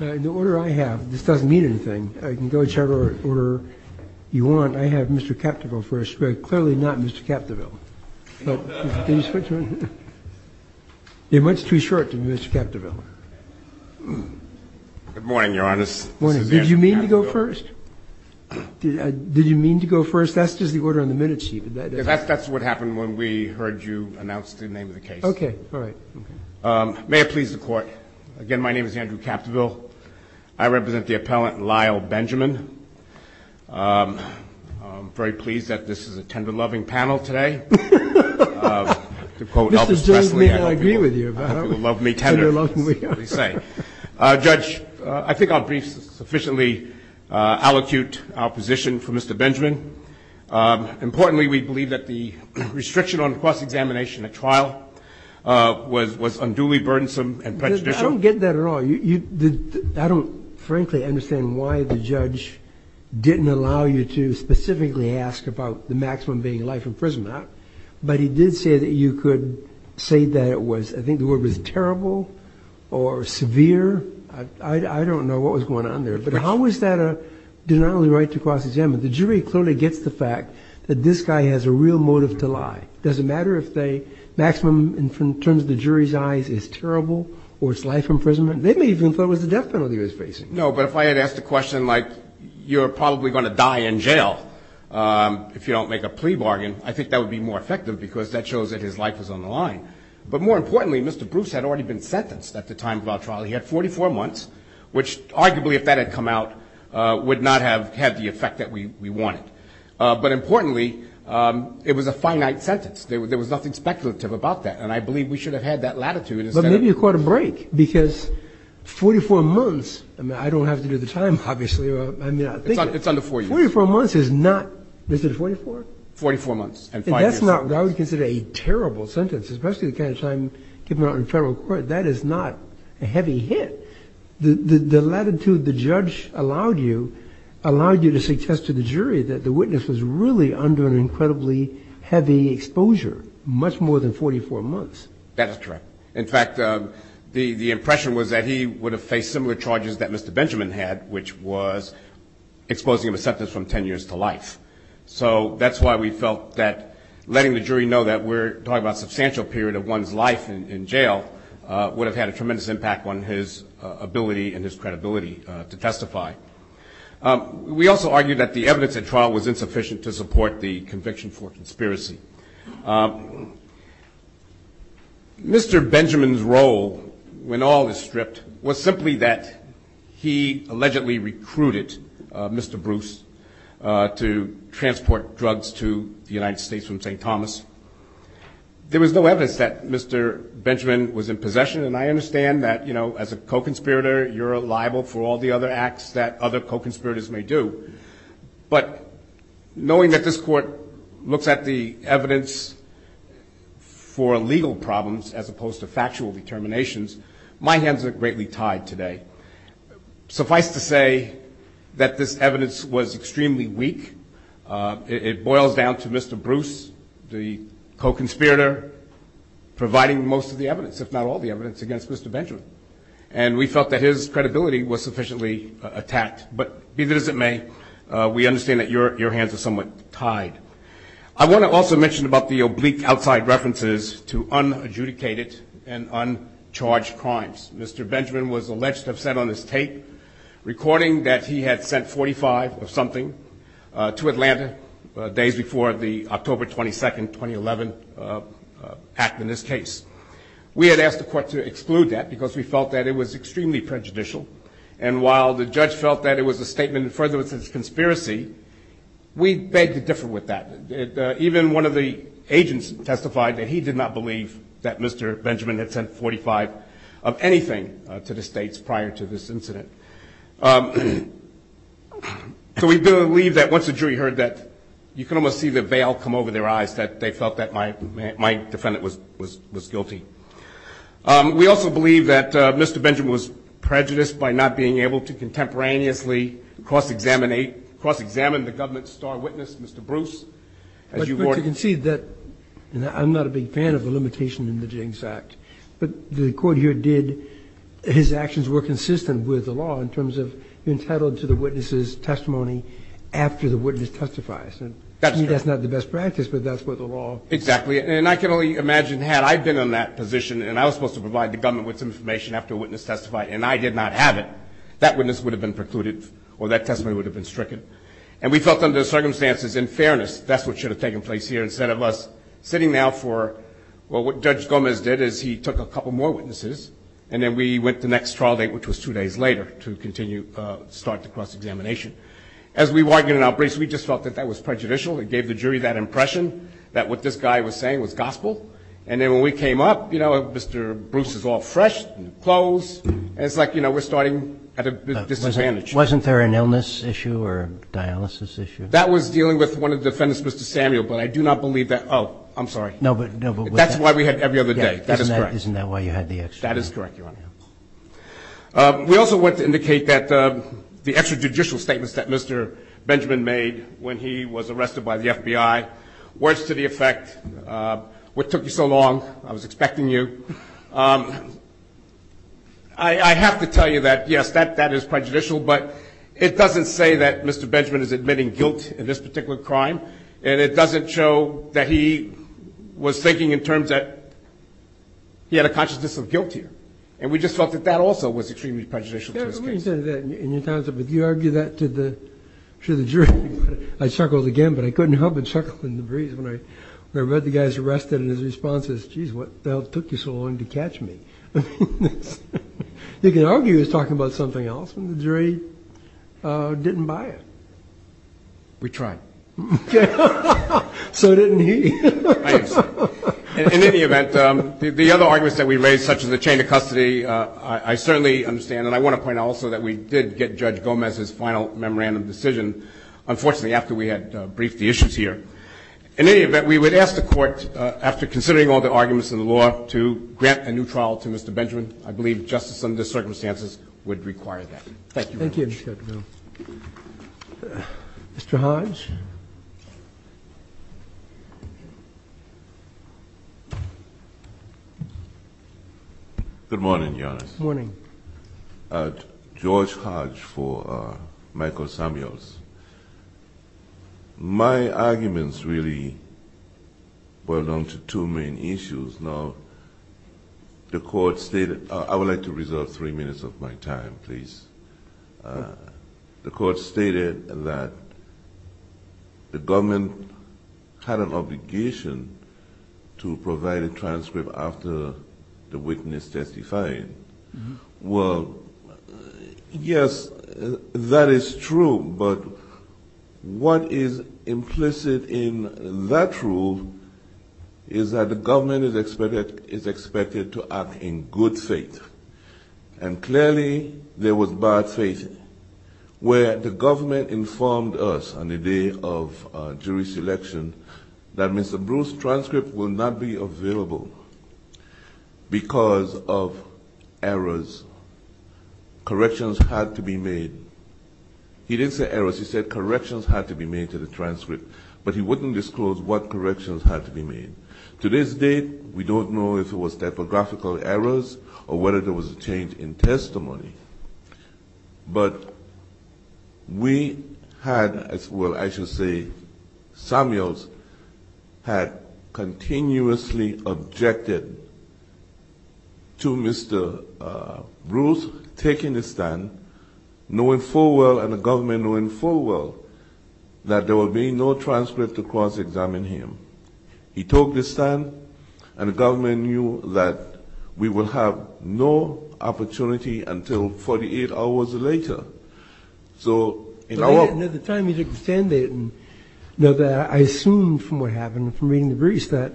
In the order I have, this doesn't mean anything. You can go in whichever order you want. I have Mr. Capdeville first, but clearly not Mr. Capdeville. Can you switch? You're much too short to be Mr. Capdeville. Good morning, Your Honor. This is Andrew Capdeville. Good morning. Did you mean to go first? Did you mean to go first? That's just the order on the minutes sheet. That's what happened when we heard you announce the name of the case. Okay. All right. May it please the Court, again, my name is Andrew Capdeville. I represent the appellant Lyle Benjamin. I'm very pleased that this is a tender-loving panel today. To quote Elvis Presley, I hope you will love me tender, as they say. Judge, I think I'll briefly sufficiently allocute our position for Mr. Benjamin. Importantly, we believe that the restriction on cross-examination at trial was unduly burdensome and prejudicial. I don't get that at all. I don't, frankly, understand why the judge didn't allow you to specifically ask about the maximum being life imprisonment. But he did say that you could say that it was, I think the word was terrible or severe. I don't know what was going on there. But how was that a denial of the right to cross-examine? The jury clearly gets the fact that this guy has a real motive to lie. Does it matter if the maximum in terms of the jury's eyes is terrible or it's life imprisonment? They may even have thought it was the death penalty he was facing. No, but if I had asked a question like, you're probably going to die in jail if you don't make a plea bargain, I think that would be more effective because that shows that his life was on the line. But more importantly, Mr. Bruce had already been sentenced at the time of our trial. He had 44 months, which arguably, if that had come out, would not have had the effect that we wanted. But importantly, it was a finite sentence. There was nothing speculative about that. And I believe we should have had that latitude. But maybe you caught a break because 44 months, I mean, I don't have to do the time, obviously. It's under four years. 44 months is not, is it 44? 44 months and five years. And that's not what I would consider a terrible sentence, especially the kind of time given out in federal court. That is not a heavy hit. The latitude the judge allowed you allowed you to suggest to the jury that the witness was really under an incredibly heavy exposure, much more than 44 months. That is correct. In fact, the impression was that he would have faced similar charges that Mr. Benjamin had, which was exposing him to sentence from 10 years to life. So that's why we felt that letting the jury know that we're talking about a substantial period of one's life in jail would have had a tremendous impact on his ability and his credibility to testify. We also argued that the evidence at trial was insufficient to support the conviction for conspiracy. Mr. Benjamin's role, when all is stripped, was simply that he allegedly recruited Mr. Bruce to transport drugs to the United States from St. Thomas. There was no evidence that Mr. Benjamin was in possession, and I understand that, you know, as a co-conspirator, you're liable for all the other acts that other co-conspirators may do. But knowing that this Court looks at the evidence for legal problems as opposed to factual determinations, my hands are greatly tied today. Suffice to say that this evidence was extremely weak. It boils down to Mr. Bruce, the co-conspirator, providing most of the evidence, if not all the evidence, against Mr. Benjamin. And we felt that his credibility was sufficiently attacked. But be that as it may, we understand that your hands are somewhat tied. I want to also mention about the oblique outside references to unadjudicated and uncharged crimes. Mr. Benjamin was alleged to have said on this tape, recording that he had sent 45 of something to Atlanta days before the October 22, 2011, act in this case. We had asked the Court to exclude that because we felt that it was extremely prejudicial. And while the judge felt that it was a statement in furtherance of his conspiracy, we begged to differ with that. Even one of the agents testified that he did not believe that Mr. Benjamin had sent 45 of anything to the states prior to this incident. So we believe that once the jury heard that, you can almost see the veil come over their eyes, that they felt that my defendant was guilty. We also believe that Mr. Benjamin was prejudiced by not being able to contemporaneously cross-examine the government's star witness, Mr. Bruce. As you've already said. But you can see that I'm not a big fan of the limitation in the Jennings Act. But the Court here did his actions were consistent with the law in terms of entitled to the witness's testimony after the witness testifies. That's true. Exactly. And I can only imagine had I been in that position and I was supposed to provide the government with some information after a witness testified and I did not have it, that witness would have been precluded or that testimony would have been stricken. And we felt under the circumstances, in fairness, that's what should have taken place here instead of us sitting now for what Judge Gomez did is he took a couple more witnesses and then we went to the next trial date, which was two days later, to continue to start the cross-examination. As we argued in our briefs, we just felt that that was prejudicial. It gave the jury that impression that what this guy was saying was gospel. And then when we came up, you know, Mr. Bruce is all fresh, clothes, and it's like, you know, we're starting at a disadvantage. Wasn't there an illness issue or dialysis issue? That was dealing with one of the defendants, Mr. Samuel. But I do not believe that. Oh, I'm sorry. That's why we had every other day. That is correct. Isn't that why you had the extra? That is correct, Your Honor. We also want to indicate that the extrajudicial statements that Mr. Benjamin made when he was arrested by the FBI, words to the effect, what took you so long? I was expecting you. I have to tell you that, yes, that is prejudicial, but it doesn't say that Mr. Benjamin is admitting guilt in this particular crime, and it doesn't show that he was thinking in terms that he had a consciousness of guilt here. And we just felt that that also was extremely prejudicial to his case. Let me tell you that. You argue that to the jury. I chuckled again, but I couldn't help but chuckle in the breeze when I read the guy's arrest and his response is, geez, what the hell took you so long to catch me? You can argue he was talking about something else, and the jury didn't buy it. We tried. So didn't he. I am sorry. In any event, the other arguments that we raised, such as the chain of custody, I certainly understand, and I want to point out also that we did get Judge Gomez's final memorandum decision, unfortunately, after we had briefed the issues here. In any event, we would ask the Court, after considering all the arguments in the law, to grant a new trial to Mr. Benjamin. I believe justice under the circumstances would require that. Thank you very much. Thank you, Mr. Judge. Mr. Hodge. Good morning, Your Honor. Good morning. George Hodge for Michael Samuels. My arguments really boil down to two main issues. Now, the Court stated – I would like to reserve three minutes of my time, please. The Court stated that the government had an obligation to provide a transcript after the witness testified. Well, yes, that is true, but what is implicit in that rule is that the government is expected to act in good faith. And clearly, there was bad faith where the government informed us on the day of jury selection that Mr. Bruce's transcript will not be available because of errors. Corrections had to be made. He didn't say errors. He said corrections had to be made to the transcript, To this date, we don't know if it was typographical errors or whether there was a change in testimony. But we had – well, I should say Samuels had continuously objected to Mr. Bruce taking the stand, knowing full well, and the government knowing full well, that there will be no transcript to cross-examine him. He took the stand, and the government knew that we will have no opportunity until 48 hours later. So, in our – But at the time he took the stand, they didn't know that. I assumed from what happened, from reading the briefs, that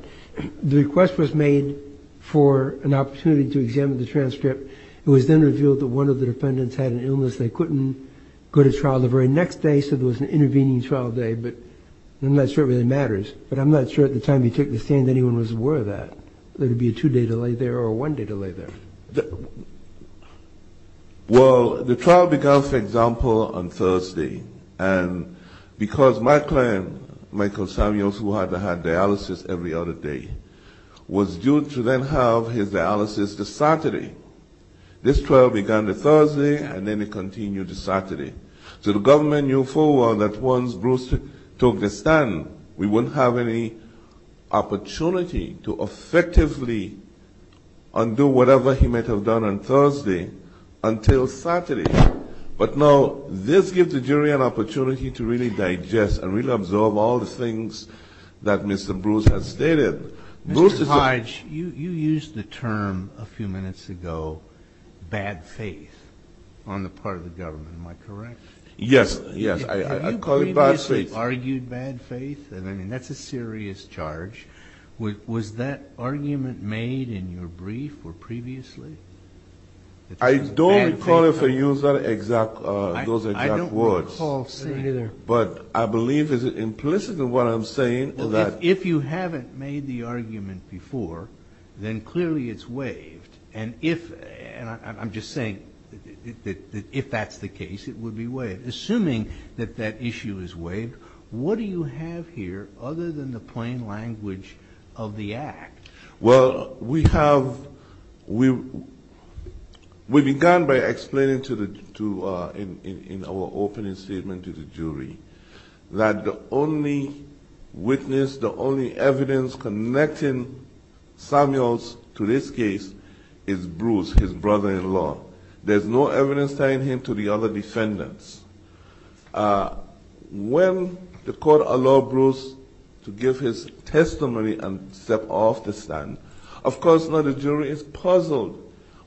the request was made for an opportunity to examine the transcript. It was then revealed that one of the defendants had an illness. They couldn't go to trial the very next day, so there was an intervening trial day. But I'm not sure it really matters. But I'm not sure at the time he took the stand anyone was aware of that, that it would be a two-day delay there or a one-day delay there. Well, the trial began, for example, on Thursday. And because my client, Michael Samuels, who had to have dialysis every other day, was due to then have his dialysis this Saturday, this trial began on Thursday, and then it continued to Saturday. So the government knew full well that once Bruce took the stand, we wouldn't have any opportunity to effectively undo whatever he might have done on Thursday until Saturday. But now this gives the jury an opportunity to really digest and really absorb all the things that Mr. Bruce has stated. Mr. Hodge, you used the term a few minutes ago, bad faith, on the part of the government. Am I correct? Yes, yes. I call it bad faith. Have you previously argued bad faith? I mean, that's a serious charge. Was that argument made in your brief or previously? I don't recall if I used those exact words. I don't recall saying either. But I believe, is it implicit in what I'm saying? If you haven't made the argument before, then clearly it's waived. And I'm just saying that if that's the case, it would be waived. Assuming that that issue is waived, what do you have here other than the plain language of the act? Well, we began by explaining in our opening statement to the jury that the only witness, the only evidence connecting Samuels to this case is Bruce, his brother-in-law. There's no evidence tying him to the other defendants. When the court allowed Bruce to give his testimony and step off the stand, of course now the jury is puzzled.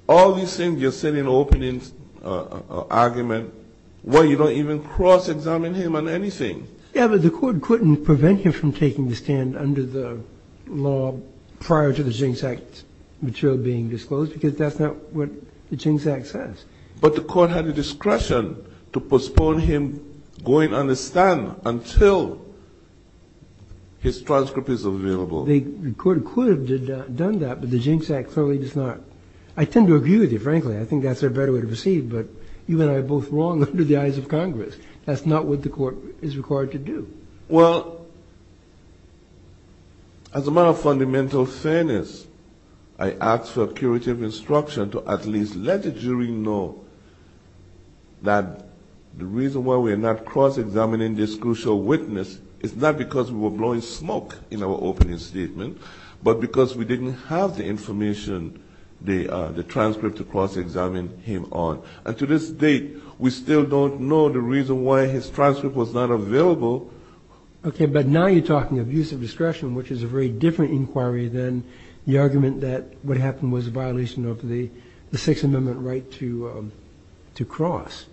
All these things you said in the opening argument, well, you don't even cross-examine him on anything. Yeah, but the court couldn't prevent him from taking the stand under the law prior to the Jinx Act material being disclosed, because that's not what the Jinx Act says. But the court had the discretion to postpone him going on the stand until his transcript is available. The court could have done that, but the Jinx Act clearly does not. I tend to agree with you, frankly. I think that's a better way to proceed, but you and I are both wrong under the eyes of Congress. That's not what the court is required to do. Well, as a matter of fundamental fairness, I ask for curative instruction to at least let the jury know that the reason why we're not cross-examining this crucial witness is not because we were blowing smoke in our opening statement, but because we didn't have the information, the transcript to cross-examine him on. And to this date, we still don't know the reason why his transcript was not available. Okay, but now you're talking abuse of discretion, which is a very different inquiry than the argument that what happened was a violation of the Sixth Amendment right to cross.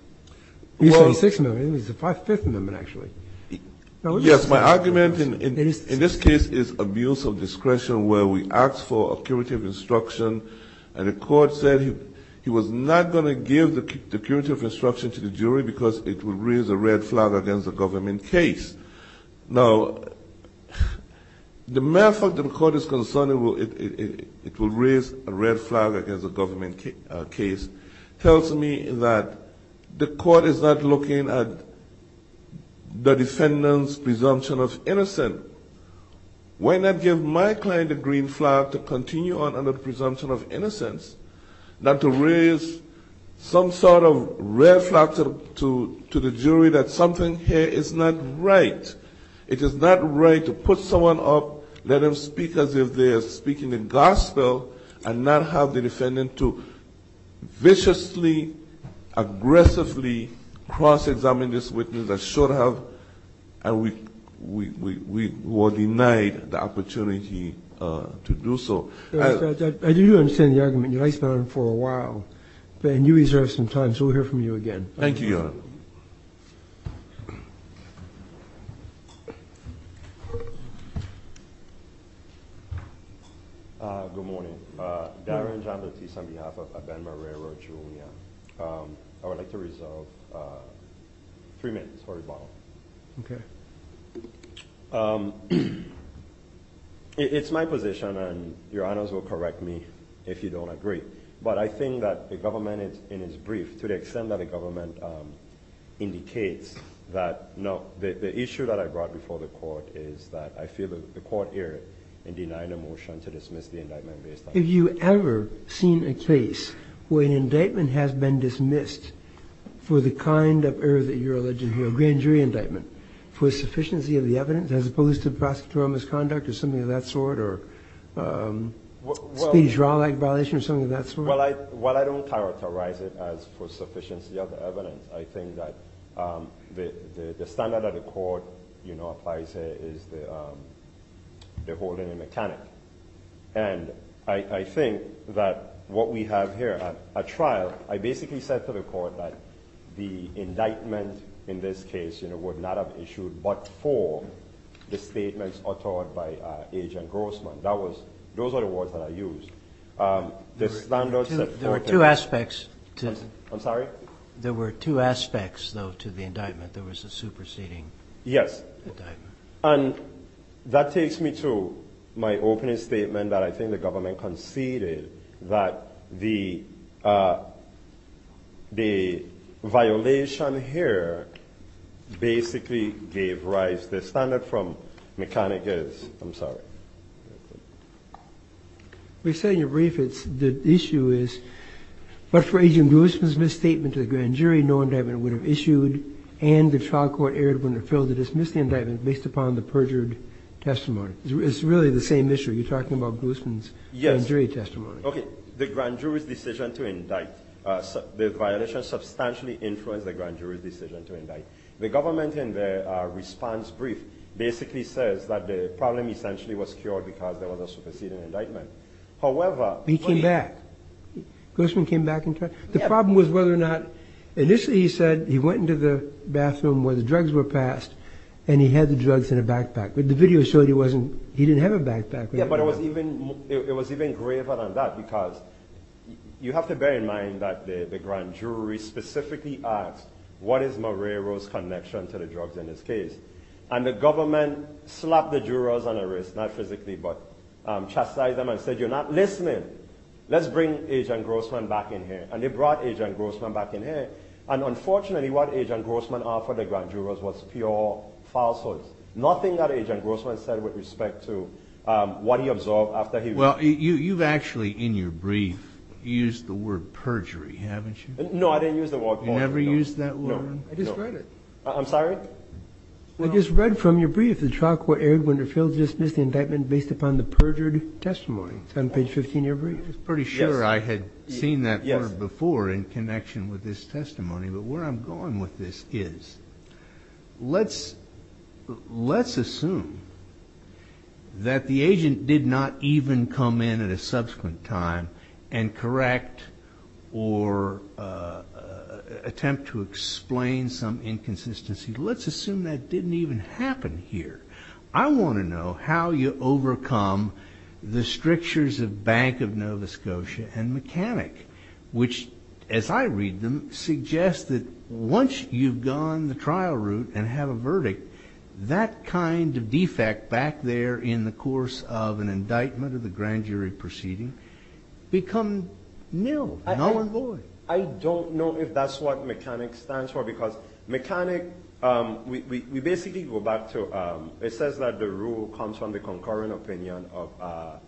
You say Sixth Amendment. I think it was the Fifth Amendment, actually. for a curative instruction, and the court said he was not going to give the curative instruction to the jury because it would raise a red flag against a government case. Now, the matter of fact that the court is concerned it will raise a red flag against a government case tells me that the court is not looking at the defendant's presumption of innocence. Why not give my client a green flag to continue on under the presumption of innocence not to raise some sort of red flag to the jury that something here is not right. It is not right to put someone up, let them speak as if they are speaking the gospel, and not have the defendant to viciously, aggressively cross-examine this witness. Because I should have, and we were denied the opportunity to do so. I do understand the argument. You guys have been on for a while, and you reserved some time, so we'll hear from you again. Thank you, Your Honor. Good morning. Darren Jean-Baptiste on behalf of Ben Marrero Jr. I would like to reserve three minutes for rebuttal. Okay. It's my position, and Your Honors will correct me if you don't agree, but I think that the government, in its brief, to the extent that the government indicates that the issue that I brought before the court is that I feel the court here in denying a motion to dismiss the indictment based on that. Have you ever seen a case where an indictment has been dismissed for the kind of error that you're alleging here, a grand jury indictment, for sufficiency of the evidence as opposed to prosecutorial misconduct or something of that sort, or speedy trial-like violation or something of that sort? Well, I don't characterize it as for sufficiency of the evidence. I think that the standard that the court applies here is the holding a mechanic. And I think that what we have here, a trial. I basically said to the court that the indictment in this case would not have issued but for the statements uttered by Agent Grossman. Those are the words that I used. There were two aspects to it. I'm sorry? There were two aspects, though, to the indictment. There was a superseding indictment. Yes. And that takes me to my opening statement that I think the government conceded that the violation here basically gave rise to the standard from Mechanicus. I'm sorry. You said in your brief that the issue is, but for Agent Grossman's misstatement to the grand jury, no indictment would have issued and the trial court erred when it failed to dismiss the indictment based upon the perjured testimony. It's really the same issue. You're talking about Grossman's grand jury testimony. Yes. Okay. The grand jury's decision to indict, the violation substantially influenced the grand jury's decision to indict. The government in their response brief basically says that the problem essentially was cured because there was a superseding indictment. However, He came back. Grossman came back and tried. The problem was whether or not, initially he said he went into the bathroom where the drugs were passed and he had the drugs in a backpack, but the video showed he didn't have a backpack. Yes, but it was even graver than that because you have to bear in mind that the grand jury specifically asked, what is Marrero's connection to the drugs in this case? And the government slapped the jurors on the wrist, not physically, but chastised them and said, you're not listening. Let's bring Agent Grossman back in here. And they brought Agent Grossman back in here. And unfortunately, what Agent Grossman offered the grand jurors was pure falsehoods. Nothing that Agent Grossman said with respect to what he observed after he. Well, you've actually, in your brief, used the word perjury, haven't you? No, I didn't use the word. You never used that word? No. I just read it. I'm sorry? I just read from your brief, the trial court, Eric Winterfield dismissed the indictment based upon the perjured testimony. It's on page 15 of your brief. I was pretty sure I had seen that word before in connection with this testimony. But where I'm going with this is, let's assume that the agent did not even come in at a subsequent time and correct or attempt to explain some inconsistency. Let's assume that didn't even happen here. I want to know how you overcome the strictures of Bank of Nova Scotia and mechanic, which, as I read them, suggests that once you've gone the trial route and have a verdict, that kind of defect back there in the course of an indictment of the grand jury proceeding become nil, null and void. I don't know if that's what mechanic stands for, because mechanic, we basically go back to, it says that the rule comes from the concurring opinion of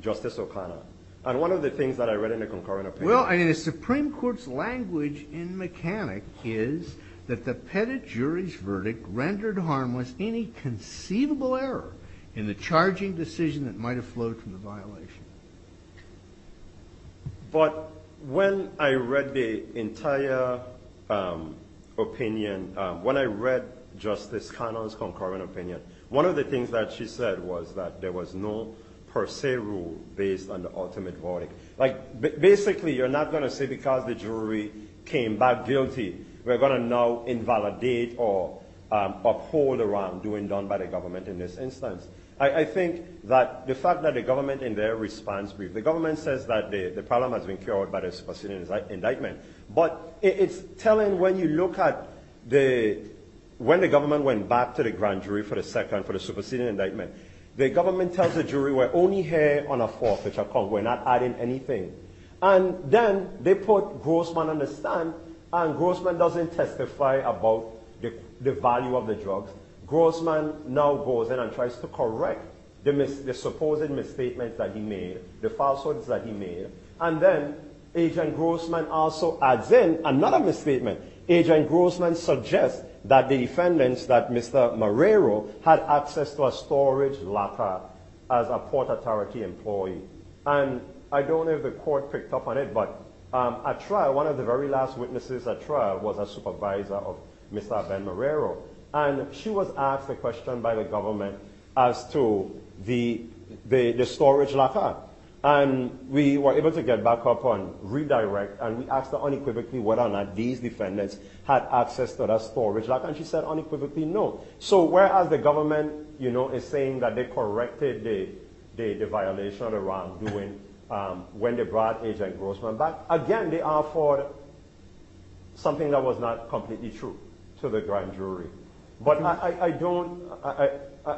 Justice O'Connor. And one of the things that I read in the concurring opinion. Well, I mean, the Supreme Court's language in mechanic is that the pettit jury's verdict rendered harmless any conceivable error in the charging decision that might have flowed from the violation. But when I read the entire opinion, when I read Justice O'Connor's concurring opinion, one of the things that she said was that there was no per se rule based on the ultimate verdict. Like, basically, you're not going to say because the jury came back guilty, we're going to now invalidate or uphold around doing done by the government in this instance. I think that the fact that the government, in their response, the government says that the problem has been cured by the superseding indictment. But it's telling when you look at the, when the government went back to the grand jury for the second, for the superseding indictment, the government tells the jury, we're only here on a fourth. We're not adding anything. And then they put Grossman on the stand, and Grossman doesn't testify about the value of the drugs. Grossman now goes in and tries to correct the supposed misstatement that he made, the falsehoods that he made. And then Agent Grossman also adds in another misstatement. Agent Grossman suggests that the defendants, that Mr. Marrero, had access to a storage locker as a Port Authority employee. And I don't know if the court picked up on it, but at trial, one of the very last witnesses at trial was a supervisor of Mr. Ben Marrero. And she was asked a question by the government as to the storage locker. And we were able to get back up on redirect, and we asked her unequivocally whether or not these defendants had access to that storage locker. And she said unequivocally no. So whereas the government is saying that they corrected the violation of the wrong, when they brought Agent Grossman back, again they are for something that was not completely true to the grand jury. But I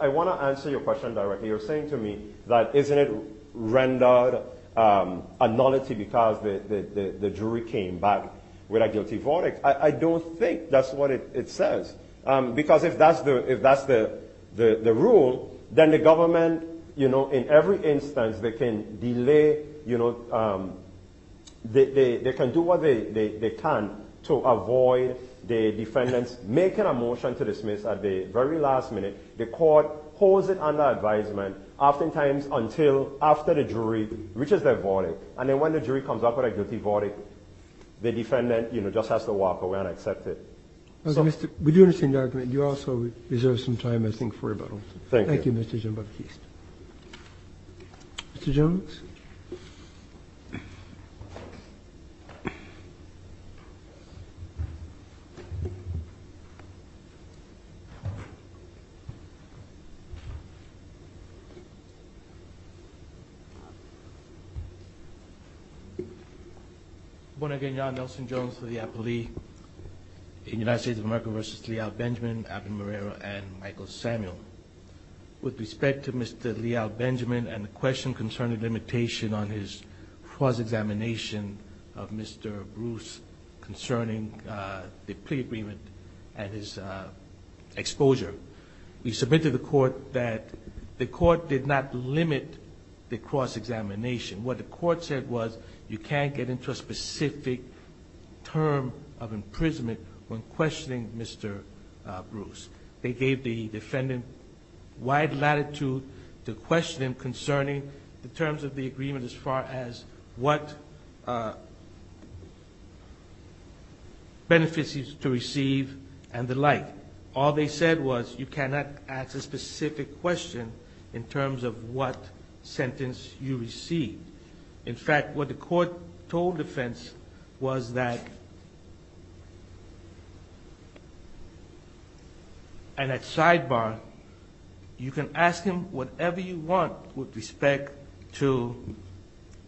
want to answer your question directly. You're saying to me that isn't it rendered a nullity because the jury came back with a guilty verdict. I don't think that's what it says. Because if that's the rule, then the government, in every instance, they can do what they can to avoid the defendants making a motion to dismiss at the very last minute. The court holds it under advisement, oftentimes until after the jury reaches their verdict. And then when the jury comes up with a guilty verdict, the defendant just has to walk away and accept it. We do understand your argument. You also reserve some time, I think, for rebuttal. Thank you. Thank you, Mr. Jean-Baptiste. Mr. Jones? Mr. Brooks? Good morning again. John Nelson Jones for the appellee in United States of America v. Leal Benjamin, Abner Moreira, and Michael Samuel. With respect to Mr. Leal Benjamin and the question concerning limitation on his cross-examination of Mr. Bruce concerning the plea agreement and his exposure, we submitted to the court that the court did not limit the cross-examination. What the court said was you can't get into a specific term of imprisonment when questioning Mr. Bruce. They gave the defendant wide latitude to question him concerning the terms of the agreement as far as what benefits he's to receive and the like. All they said was you cannot ask a specific question in terms of what sentence you receive. In fact, what the court told defense was that, and at sidebar, you can ask him whatever you want with respect to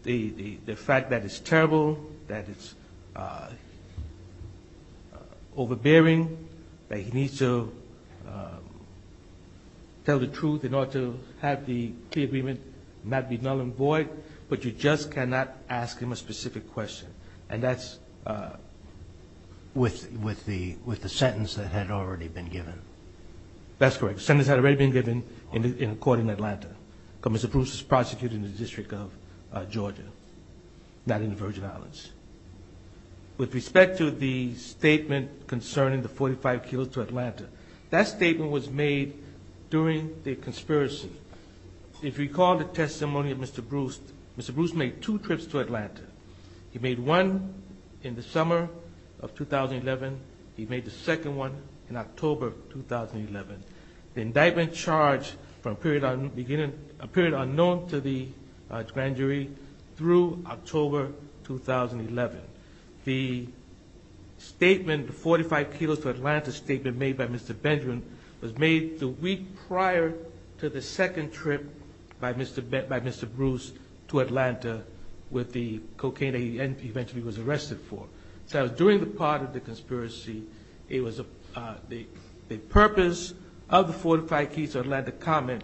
the fact that it's terrible, that it's overbearing, that he needs to tell the truth in order to have the plea agreement not be null and void, but you just cannot ask him a specific question. And that's with the sentence that had already been given. That's correct. The sentence had already been given in a court in Atlanta. Mr. Bruce was prosecuted in the District of Georgia, not in the Virgin Islands. With respect to the statement concerning the 45 kilos to Atlanta, that statement was made during the conspiracy. If you recall the testimony of Mr. Bruce, Mr. Bruce made two trips to Atlanta. He made one in the summer of 2011. He made the second one in October of 2011. The indictment charged from a period unknown to the grand jury through October 2011. The statement, the 45 kilos to Atlanta statement made by Mr. Benjamin, was made the week prior to the second trip by Mr. Bruce to Atlanta with the cocaine that he eventually was arrested for. So during the part of the conspiracy, the purpose of the 45 kilos to Atlanta comment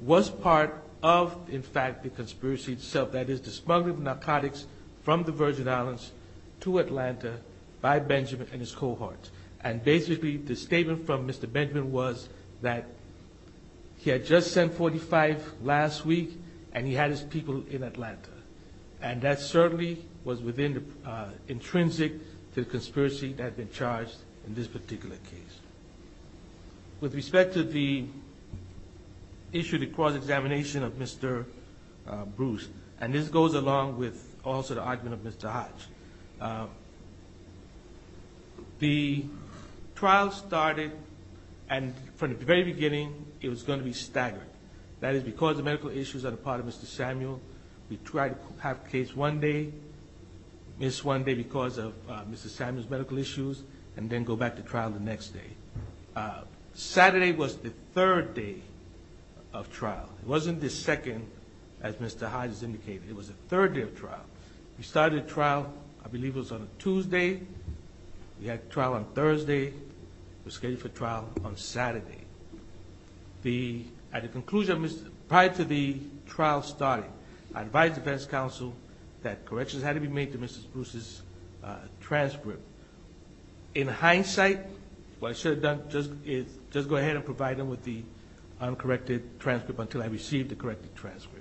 was part of, in fact, the conspiracy itself. That is the smuggling of narcotics from the Virgin Islands to Atlanta by Benjamin and his cohorts. And basically the statement from Mr. Benjamin was that he had just sent 45 last week and he had his people in Atlanta. And that certainly was within the intrinsic to the conspiracy that had been charged in this particular case. With respect to the issue of the cross-examination of Mr. Bruce, and this goes along with also the argument of Mr. Hodge, the trial started and from the very beginning it was going to be staggered. That is because of medical issues on the part of Mr. Samuel. We tried to have the case one day, miss one day because of Mr. Samuel's medical issues, and then go back to trial the next day. Saturday was the third day of trial. It wasn't the second, as Mr. Hodge has indicated. It was the third day of trial. We started the trial, I believe it was on a Tuesday. We had the trial on Thursday. It was scheduled for trial on Saturday. At the conclusion prior to the trial starting, I advised defense counsel that corrections had to be made to Mr. Bruce's transcript. In hindsight, what I should have done is just go ahead and provide him with the uncorrected transcript until I received the corrected transcript.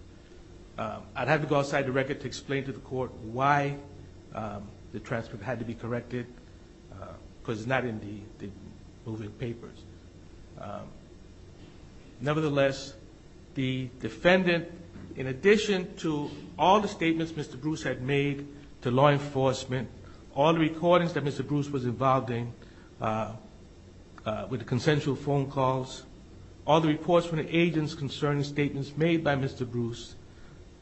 I'd have to go outside the record to explain to the court why the transcript had to be corrected because it's not in the moving papers. Nevertheless, the defendant, in addition to all the statements Mr. Bruce had made to law enforcement, all the recordings that Mr. Bruce was involved in with the consensual phone calls, all the reports from the agents concerning statements made by Mr. Bruce,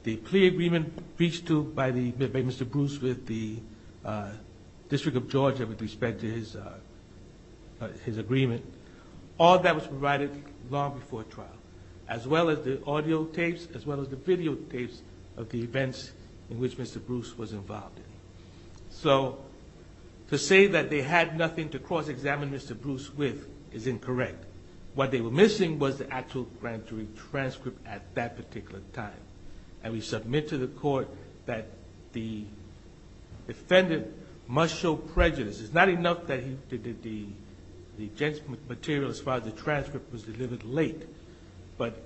the plea agreement reached to by Mr. Bruce with the District of Georgia with respect to his agreement, all that was provided long before trial, as well as the audio tapes, as well as the videotapes of the events in which Mr. Bruce was involved in. So to say that they had nothing to cross-examine Mr. Bruce with is incorrect. What they were missing was the actual grand jury transcript at that particular time. And we submit to the court that the defendant must show prejudice. It's not enough that he did the material as far as the transcript was delivered late, but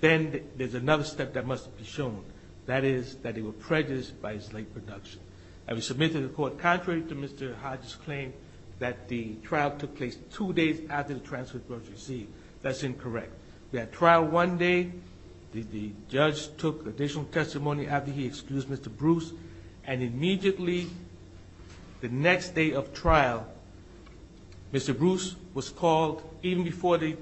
then there's another step that must be shown. That is that they were prejudiced by his late production. And we submit to the court, contrary to Mr. Hodges' claim, that the trial took place two days after the transcript was received. That's incorrect. We had trial one day. The judge took additional testimony after he excused Mr. Bruce. And immediately the next day of trial, Mr. Bruce was called, even before the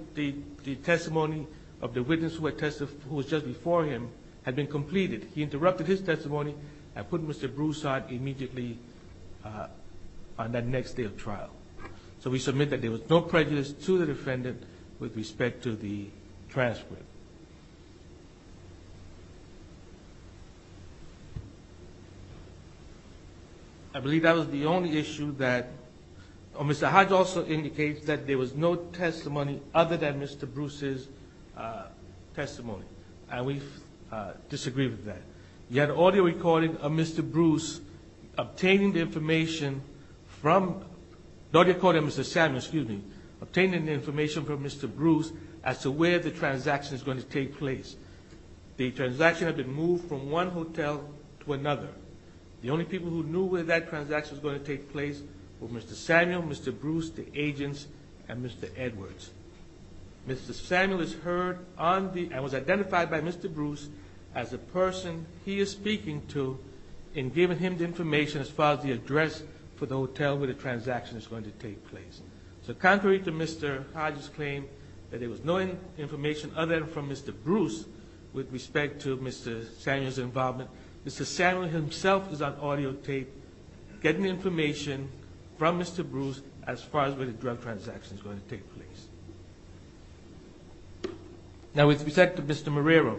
testimony of the witness who was just before him had been completed. He interrupted his testimony and put Mr. Bruce out immediately on that next day of trial. So we submit that there was no prejudice to the defendant with respect to the transcript. I believe that was the only issue that Mr. Hodges also indicates, that there was no testimony other than Mr. Bruce's testimony. And we disagree with that. You had an audio recording of Mr. Bruce obtaining the information from the audio recording of Mr. Samuel, obtaining the information from Mr. Bruce as to where the transaction is going to take place. The transaction had been moved from one hotel to another. The only people who knew where that transaction was going to take place were Mr. Samuel, Mr. Bruce, the agents, and Mr. Edwards. Mr. Samuel is heard and was identified by Mr. Bruce as the person he is speaking to in giving him the information as far as the address for the hotel where the transaction is going to take place. So contrary to Mr. Hodges' claim that there was no information other than from Mr. Bruce with respect to Mr. Samuel's involvement, Mr. Samuel himself is on audio tape getting information from Mr. Bruce as far as where the drug transaction is going to take place. Now with respect to Mr. Marrero,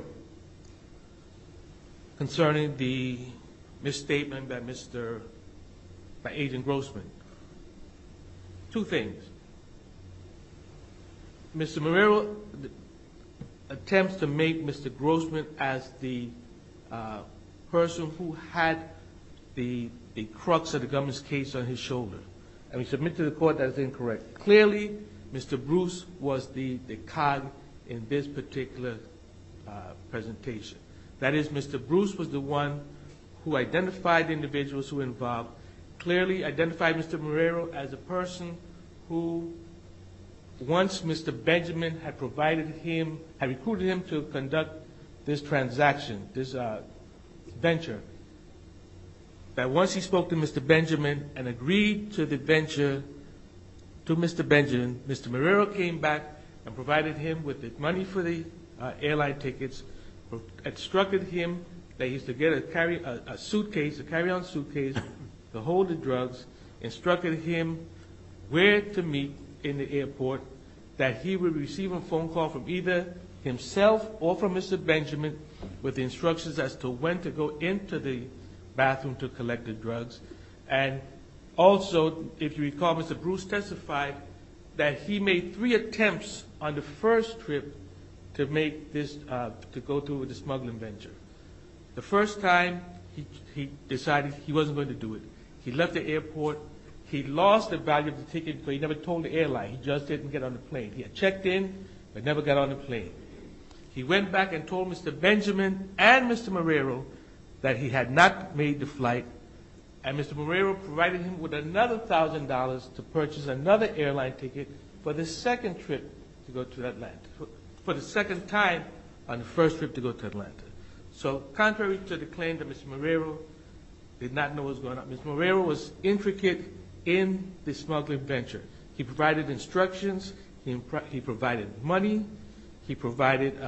concerning the misstatement by Agent Grossman, two things. Mr. Marrero attempts to make Mr. Grossman as the person who had the crux of the government's case on his shoulder. And we submit to the court that is incorrect. Clearly, Mr. Bruce was the cog in this particular presentation. That is, Mr. Bruce was the one who identified the individuals who were involved, clearly identified Mr. Marrero as a person who, once Mr. Benjamin had provided him, had recruited him to conduct this transaction, this venture, that once he spoke to Mr. Benjamin and agreed to the venture to Mr. Benjamin, Mr. Marrero came back and provided him with the money for the airline tickets, instructed him that he should get a suitcase, a carry-on suitcase to hold the drugs, instructed him where to meet in the airport, that he would receive a phone call from either himself or from Mr. Benjamin with instructions as to when to go into the bathroom to collect the drugs. And also, if you recall, Mr. Bruce testified that he made three attempts on the first trip to go through with the smuggling venture. The first time, he decided he wasn't going to do it. He left the airport. He lost the value of the tickets, but he never told the airline. He just didn't get on the plane. He had checked in, but never got on the plane. He went back and told Mr. Benjamin and Mr. Marrero that he had not made the flight, and Mr. Marrero provided him with another $1,000 to purchase another airline ticket for the second time on the first trip to go to Atlanta. So contrary to the claim that Mr. Marrero did not know what was going on, Mr. Marrero was intricate in the smuggling venture. He provided instructions. He provided money. He provided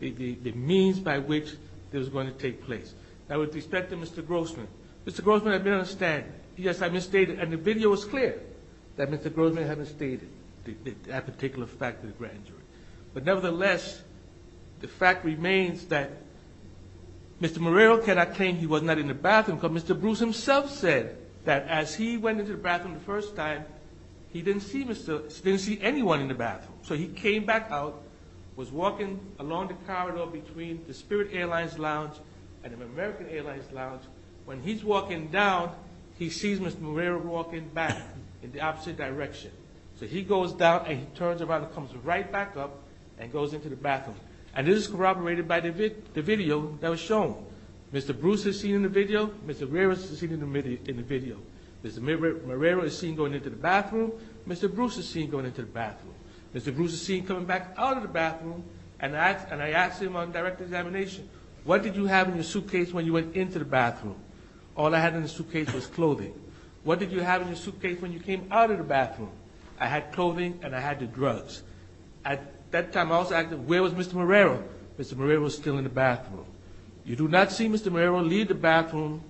the means by which it was going to take place. Now, with respect to Mr. Grossman, Mr. Grossman, I understand. Yes, I misstated, and the video was clear that Mr. Grossman had misstated that particular fact. But nevertheless, the fact remains that Mr. Marrero cannot claim he was not in the bathroom because Mr. Bruce himself said that as he went into the bathroom the first time, he didn't see anyone in the bathroom. So he came back out, was walking along the corridor between the Spirit Airlines Lounge and the American Airlines Lounge. When he's walking down, he sees Mr. Marrero walking back in the opposite direction. So he goes down and he turns around and comes right back up and goes into the bathroom. And this is corroborated by the video that was shown. Mr. Bruce is seen in the video. Mr. Marrero is seen in the video. Mr. Marrero is seen going into the bathroom. Mr. Bruce is seen going into the bathroom. Mr. Bruce is seen coming back out of the bathroom, and I asked him on direct examination, what did you have in your suitcase when you went into the bathroom? All I had in the suitcase was clothing. What did you have in your suitcase when you came out of the bathroom? I had clothing and I had the drugs. At that time, I was asking, where was Mr. Marrero? Mr. Marrero was still in the bathroom. You do not see Mr. Marrero leave the bathroom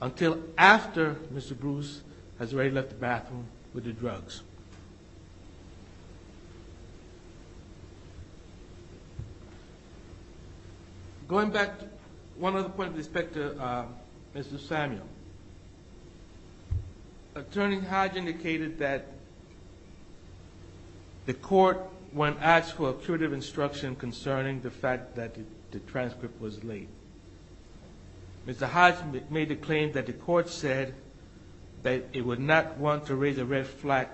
until after Mr. Bruce has already left the bathroom with the drugs. Going back to one other point with respect to Mr. Samuel, Attorney Hodge indicated that the court, when asked for a curative instruction concerning the fact that the transcript was late, Mr. Hodge made the claim that the court said that it would not want to raise a red flag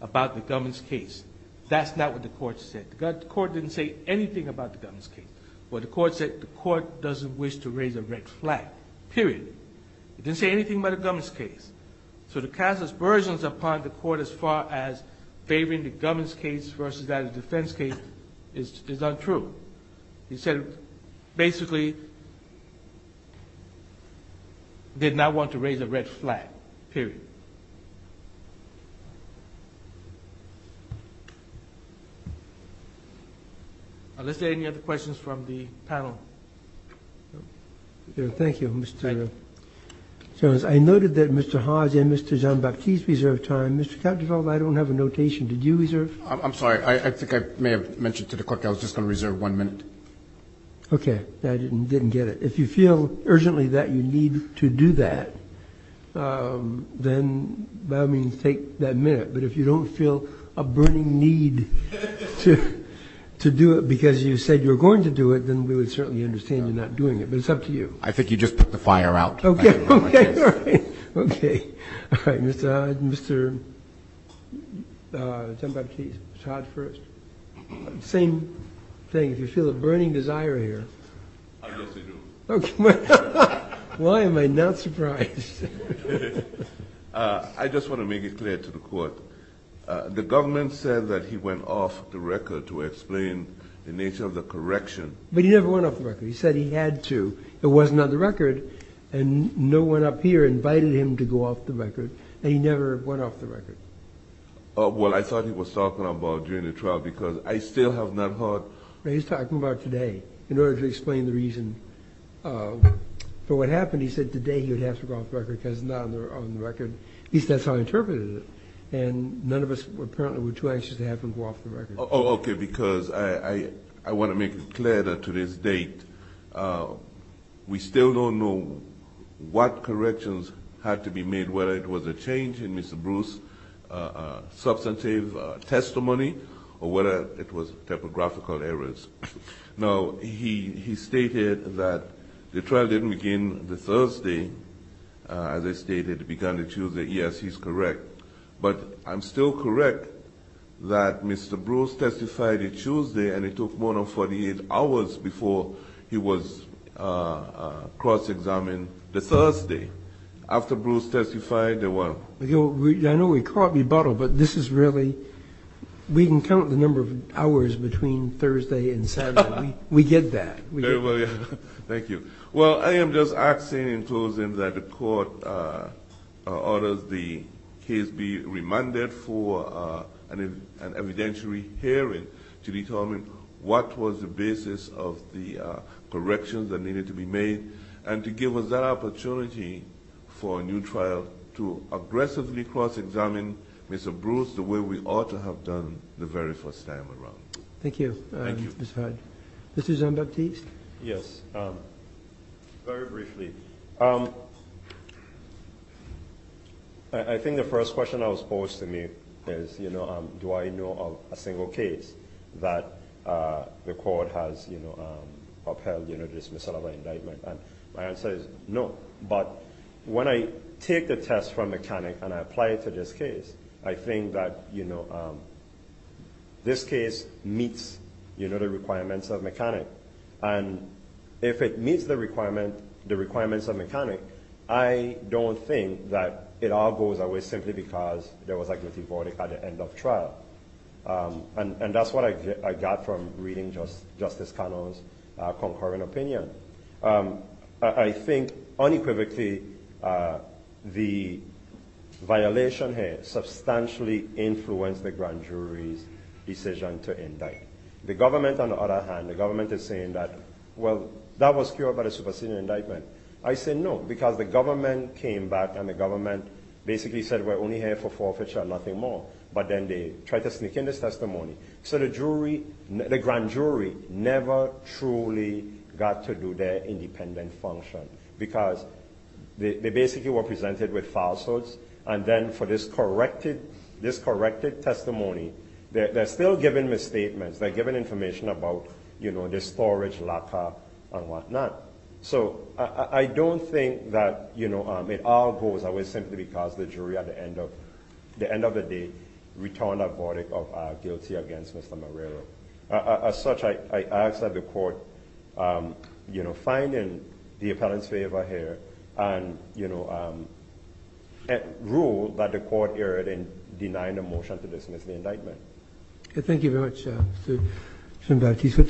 about the Gummins case. That's not what the court said. The court didn't say anything about the Gummins case. What the court said, the court doesn't wish to raise a red flag, period. It didn't say anything about the Gummins case. So to cast aspersions upon the court as far as favoring the Gummins case versus that of the defense case is untrue. He said, basically, did not want to raise a red flag, period. Are there any other questions from the panel? Thank you, Mr. Jones. I noted that Mr. Hodge and Mr. Jean-Baptiste reserved time. Mr. Kattenfeld, I don't have a notation. Did you reserve? I'm sorry. I think I may have mentioned to the clerk I was just going to reserve one minute. Okay. I didn't get it. If you feel urgently that you need to do that, then that means take that minute. But if you don't feel a burning need to do it because you said you were going to do it, then we would certainly understand you're not doing it. But it's up to you. I think you just put the fire out. Okay. All right. Okay. All right. Mr. Hodge and Mr. Jean-Baptiste. Mr. Hodge first. Same thing. If you feel a burning desire here. I guess I do. Why am I not surprised? I just want to make it clear to the court. The government said that he went off the record to explain the nature of the correction. But he never went off the record. He said he had to. It wasn't on the record. And no one up here invited him to go off the record. And he never went off the record. Well, I thought he was talking about during the trial because I still have not heard. He's talking about today in order to explain the reason for what happened. And he said today he would have to go off the record because it's not on the record. At least that's how I interpreted it. And none of us apparently were too anxious to have him go off the record. Okay. Because I want to make it clear that to this date we still don't know what corrections had to be made, whether it was a change in Mr. Bruce's substantive testimony or whether it was typographical errors. Now, he stated that the trial didn't begin the Thursday. As I stated, it began the Tuesday. Yes, he's correct. But I'm still correct that Mr. Bruce testified a Tuesday, and it took more than 48 hours before he was cross-examined the Thursday. After Bruce testified, they weren't. I know we caught rebuttal, but this is really we can count the number of hours between Thursday and Saturday. We get that. Thank you. Well, I am just asking in closing that the court orders the case be remanded for an evidentiary hearing to determine what was the basis of the corrections that needed to be made and to give us that opportunity for a new trial to aggressively cross-examine Mr. Bruce the way we ought to have done the very first time around. Thank you. Thank you. Mr. Zambaptiste? Yes. Very briefly. I think the first question I was posed to me is, you know, do I know of a single case that the court has, you know, upheld, you know, dismissal of an indictment? And my answer is no. But when I take the test from mechanic and I apply it to this case, I think that, you know, this case meets, you know, the requirements of mechanic. And if it meets the requirements of mechanic, I don't think that it all goes away simply because there was a guilty verdict at the end of trial. And that's what I got from reading Justice Cano's concurrent opinion. I think unequivocally the violation here substantially influenced the grand jury's decision to indict. The government, on the other hand, the government is saying that, well, that was cured by the supersedent indictment. I say no because the government came back and the government basically said we're only here for forfeiture and nothing more. But then they tried to sneak in this testimony. So the jury, the grand jury never truly got to do their independent function because they basically were presented with falsehoods. And then for this corrected testimony, they're still giving misstatements. They're giving information about, you know, the storage locker and whatnot. So I don't think that, you know, it all goes away simply because the jury at the end of the day returned a verdict of guilty against Mr. Marrero. As such, I ask that the court, you know, find in the appellant's favor here and, you know, rule that the court erred in denying a motion to dismiss the indictment. Thank you very much, Mr. Mbattis.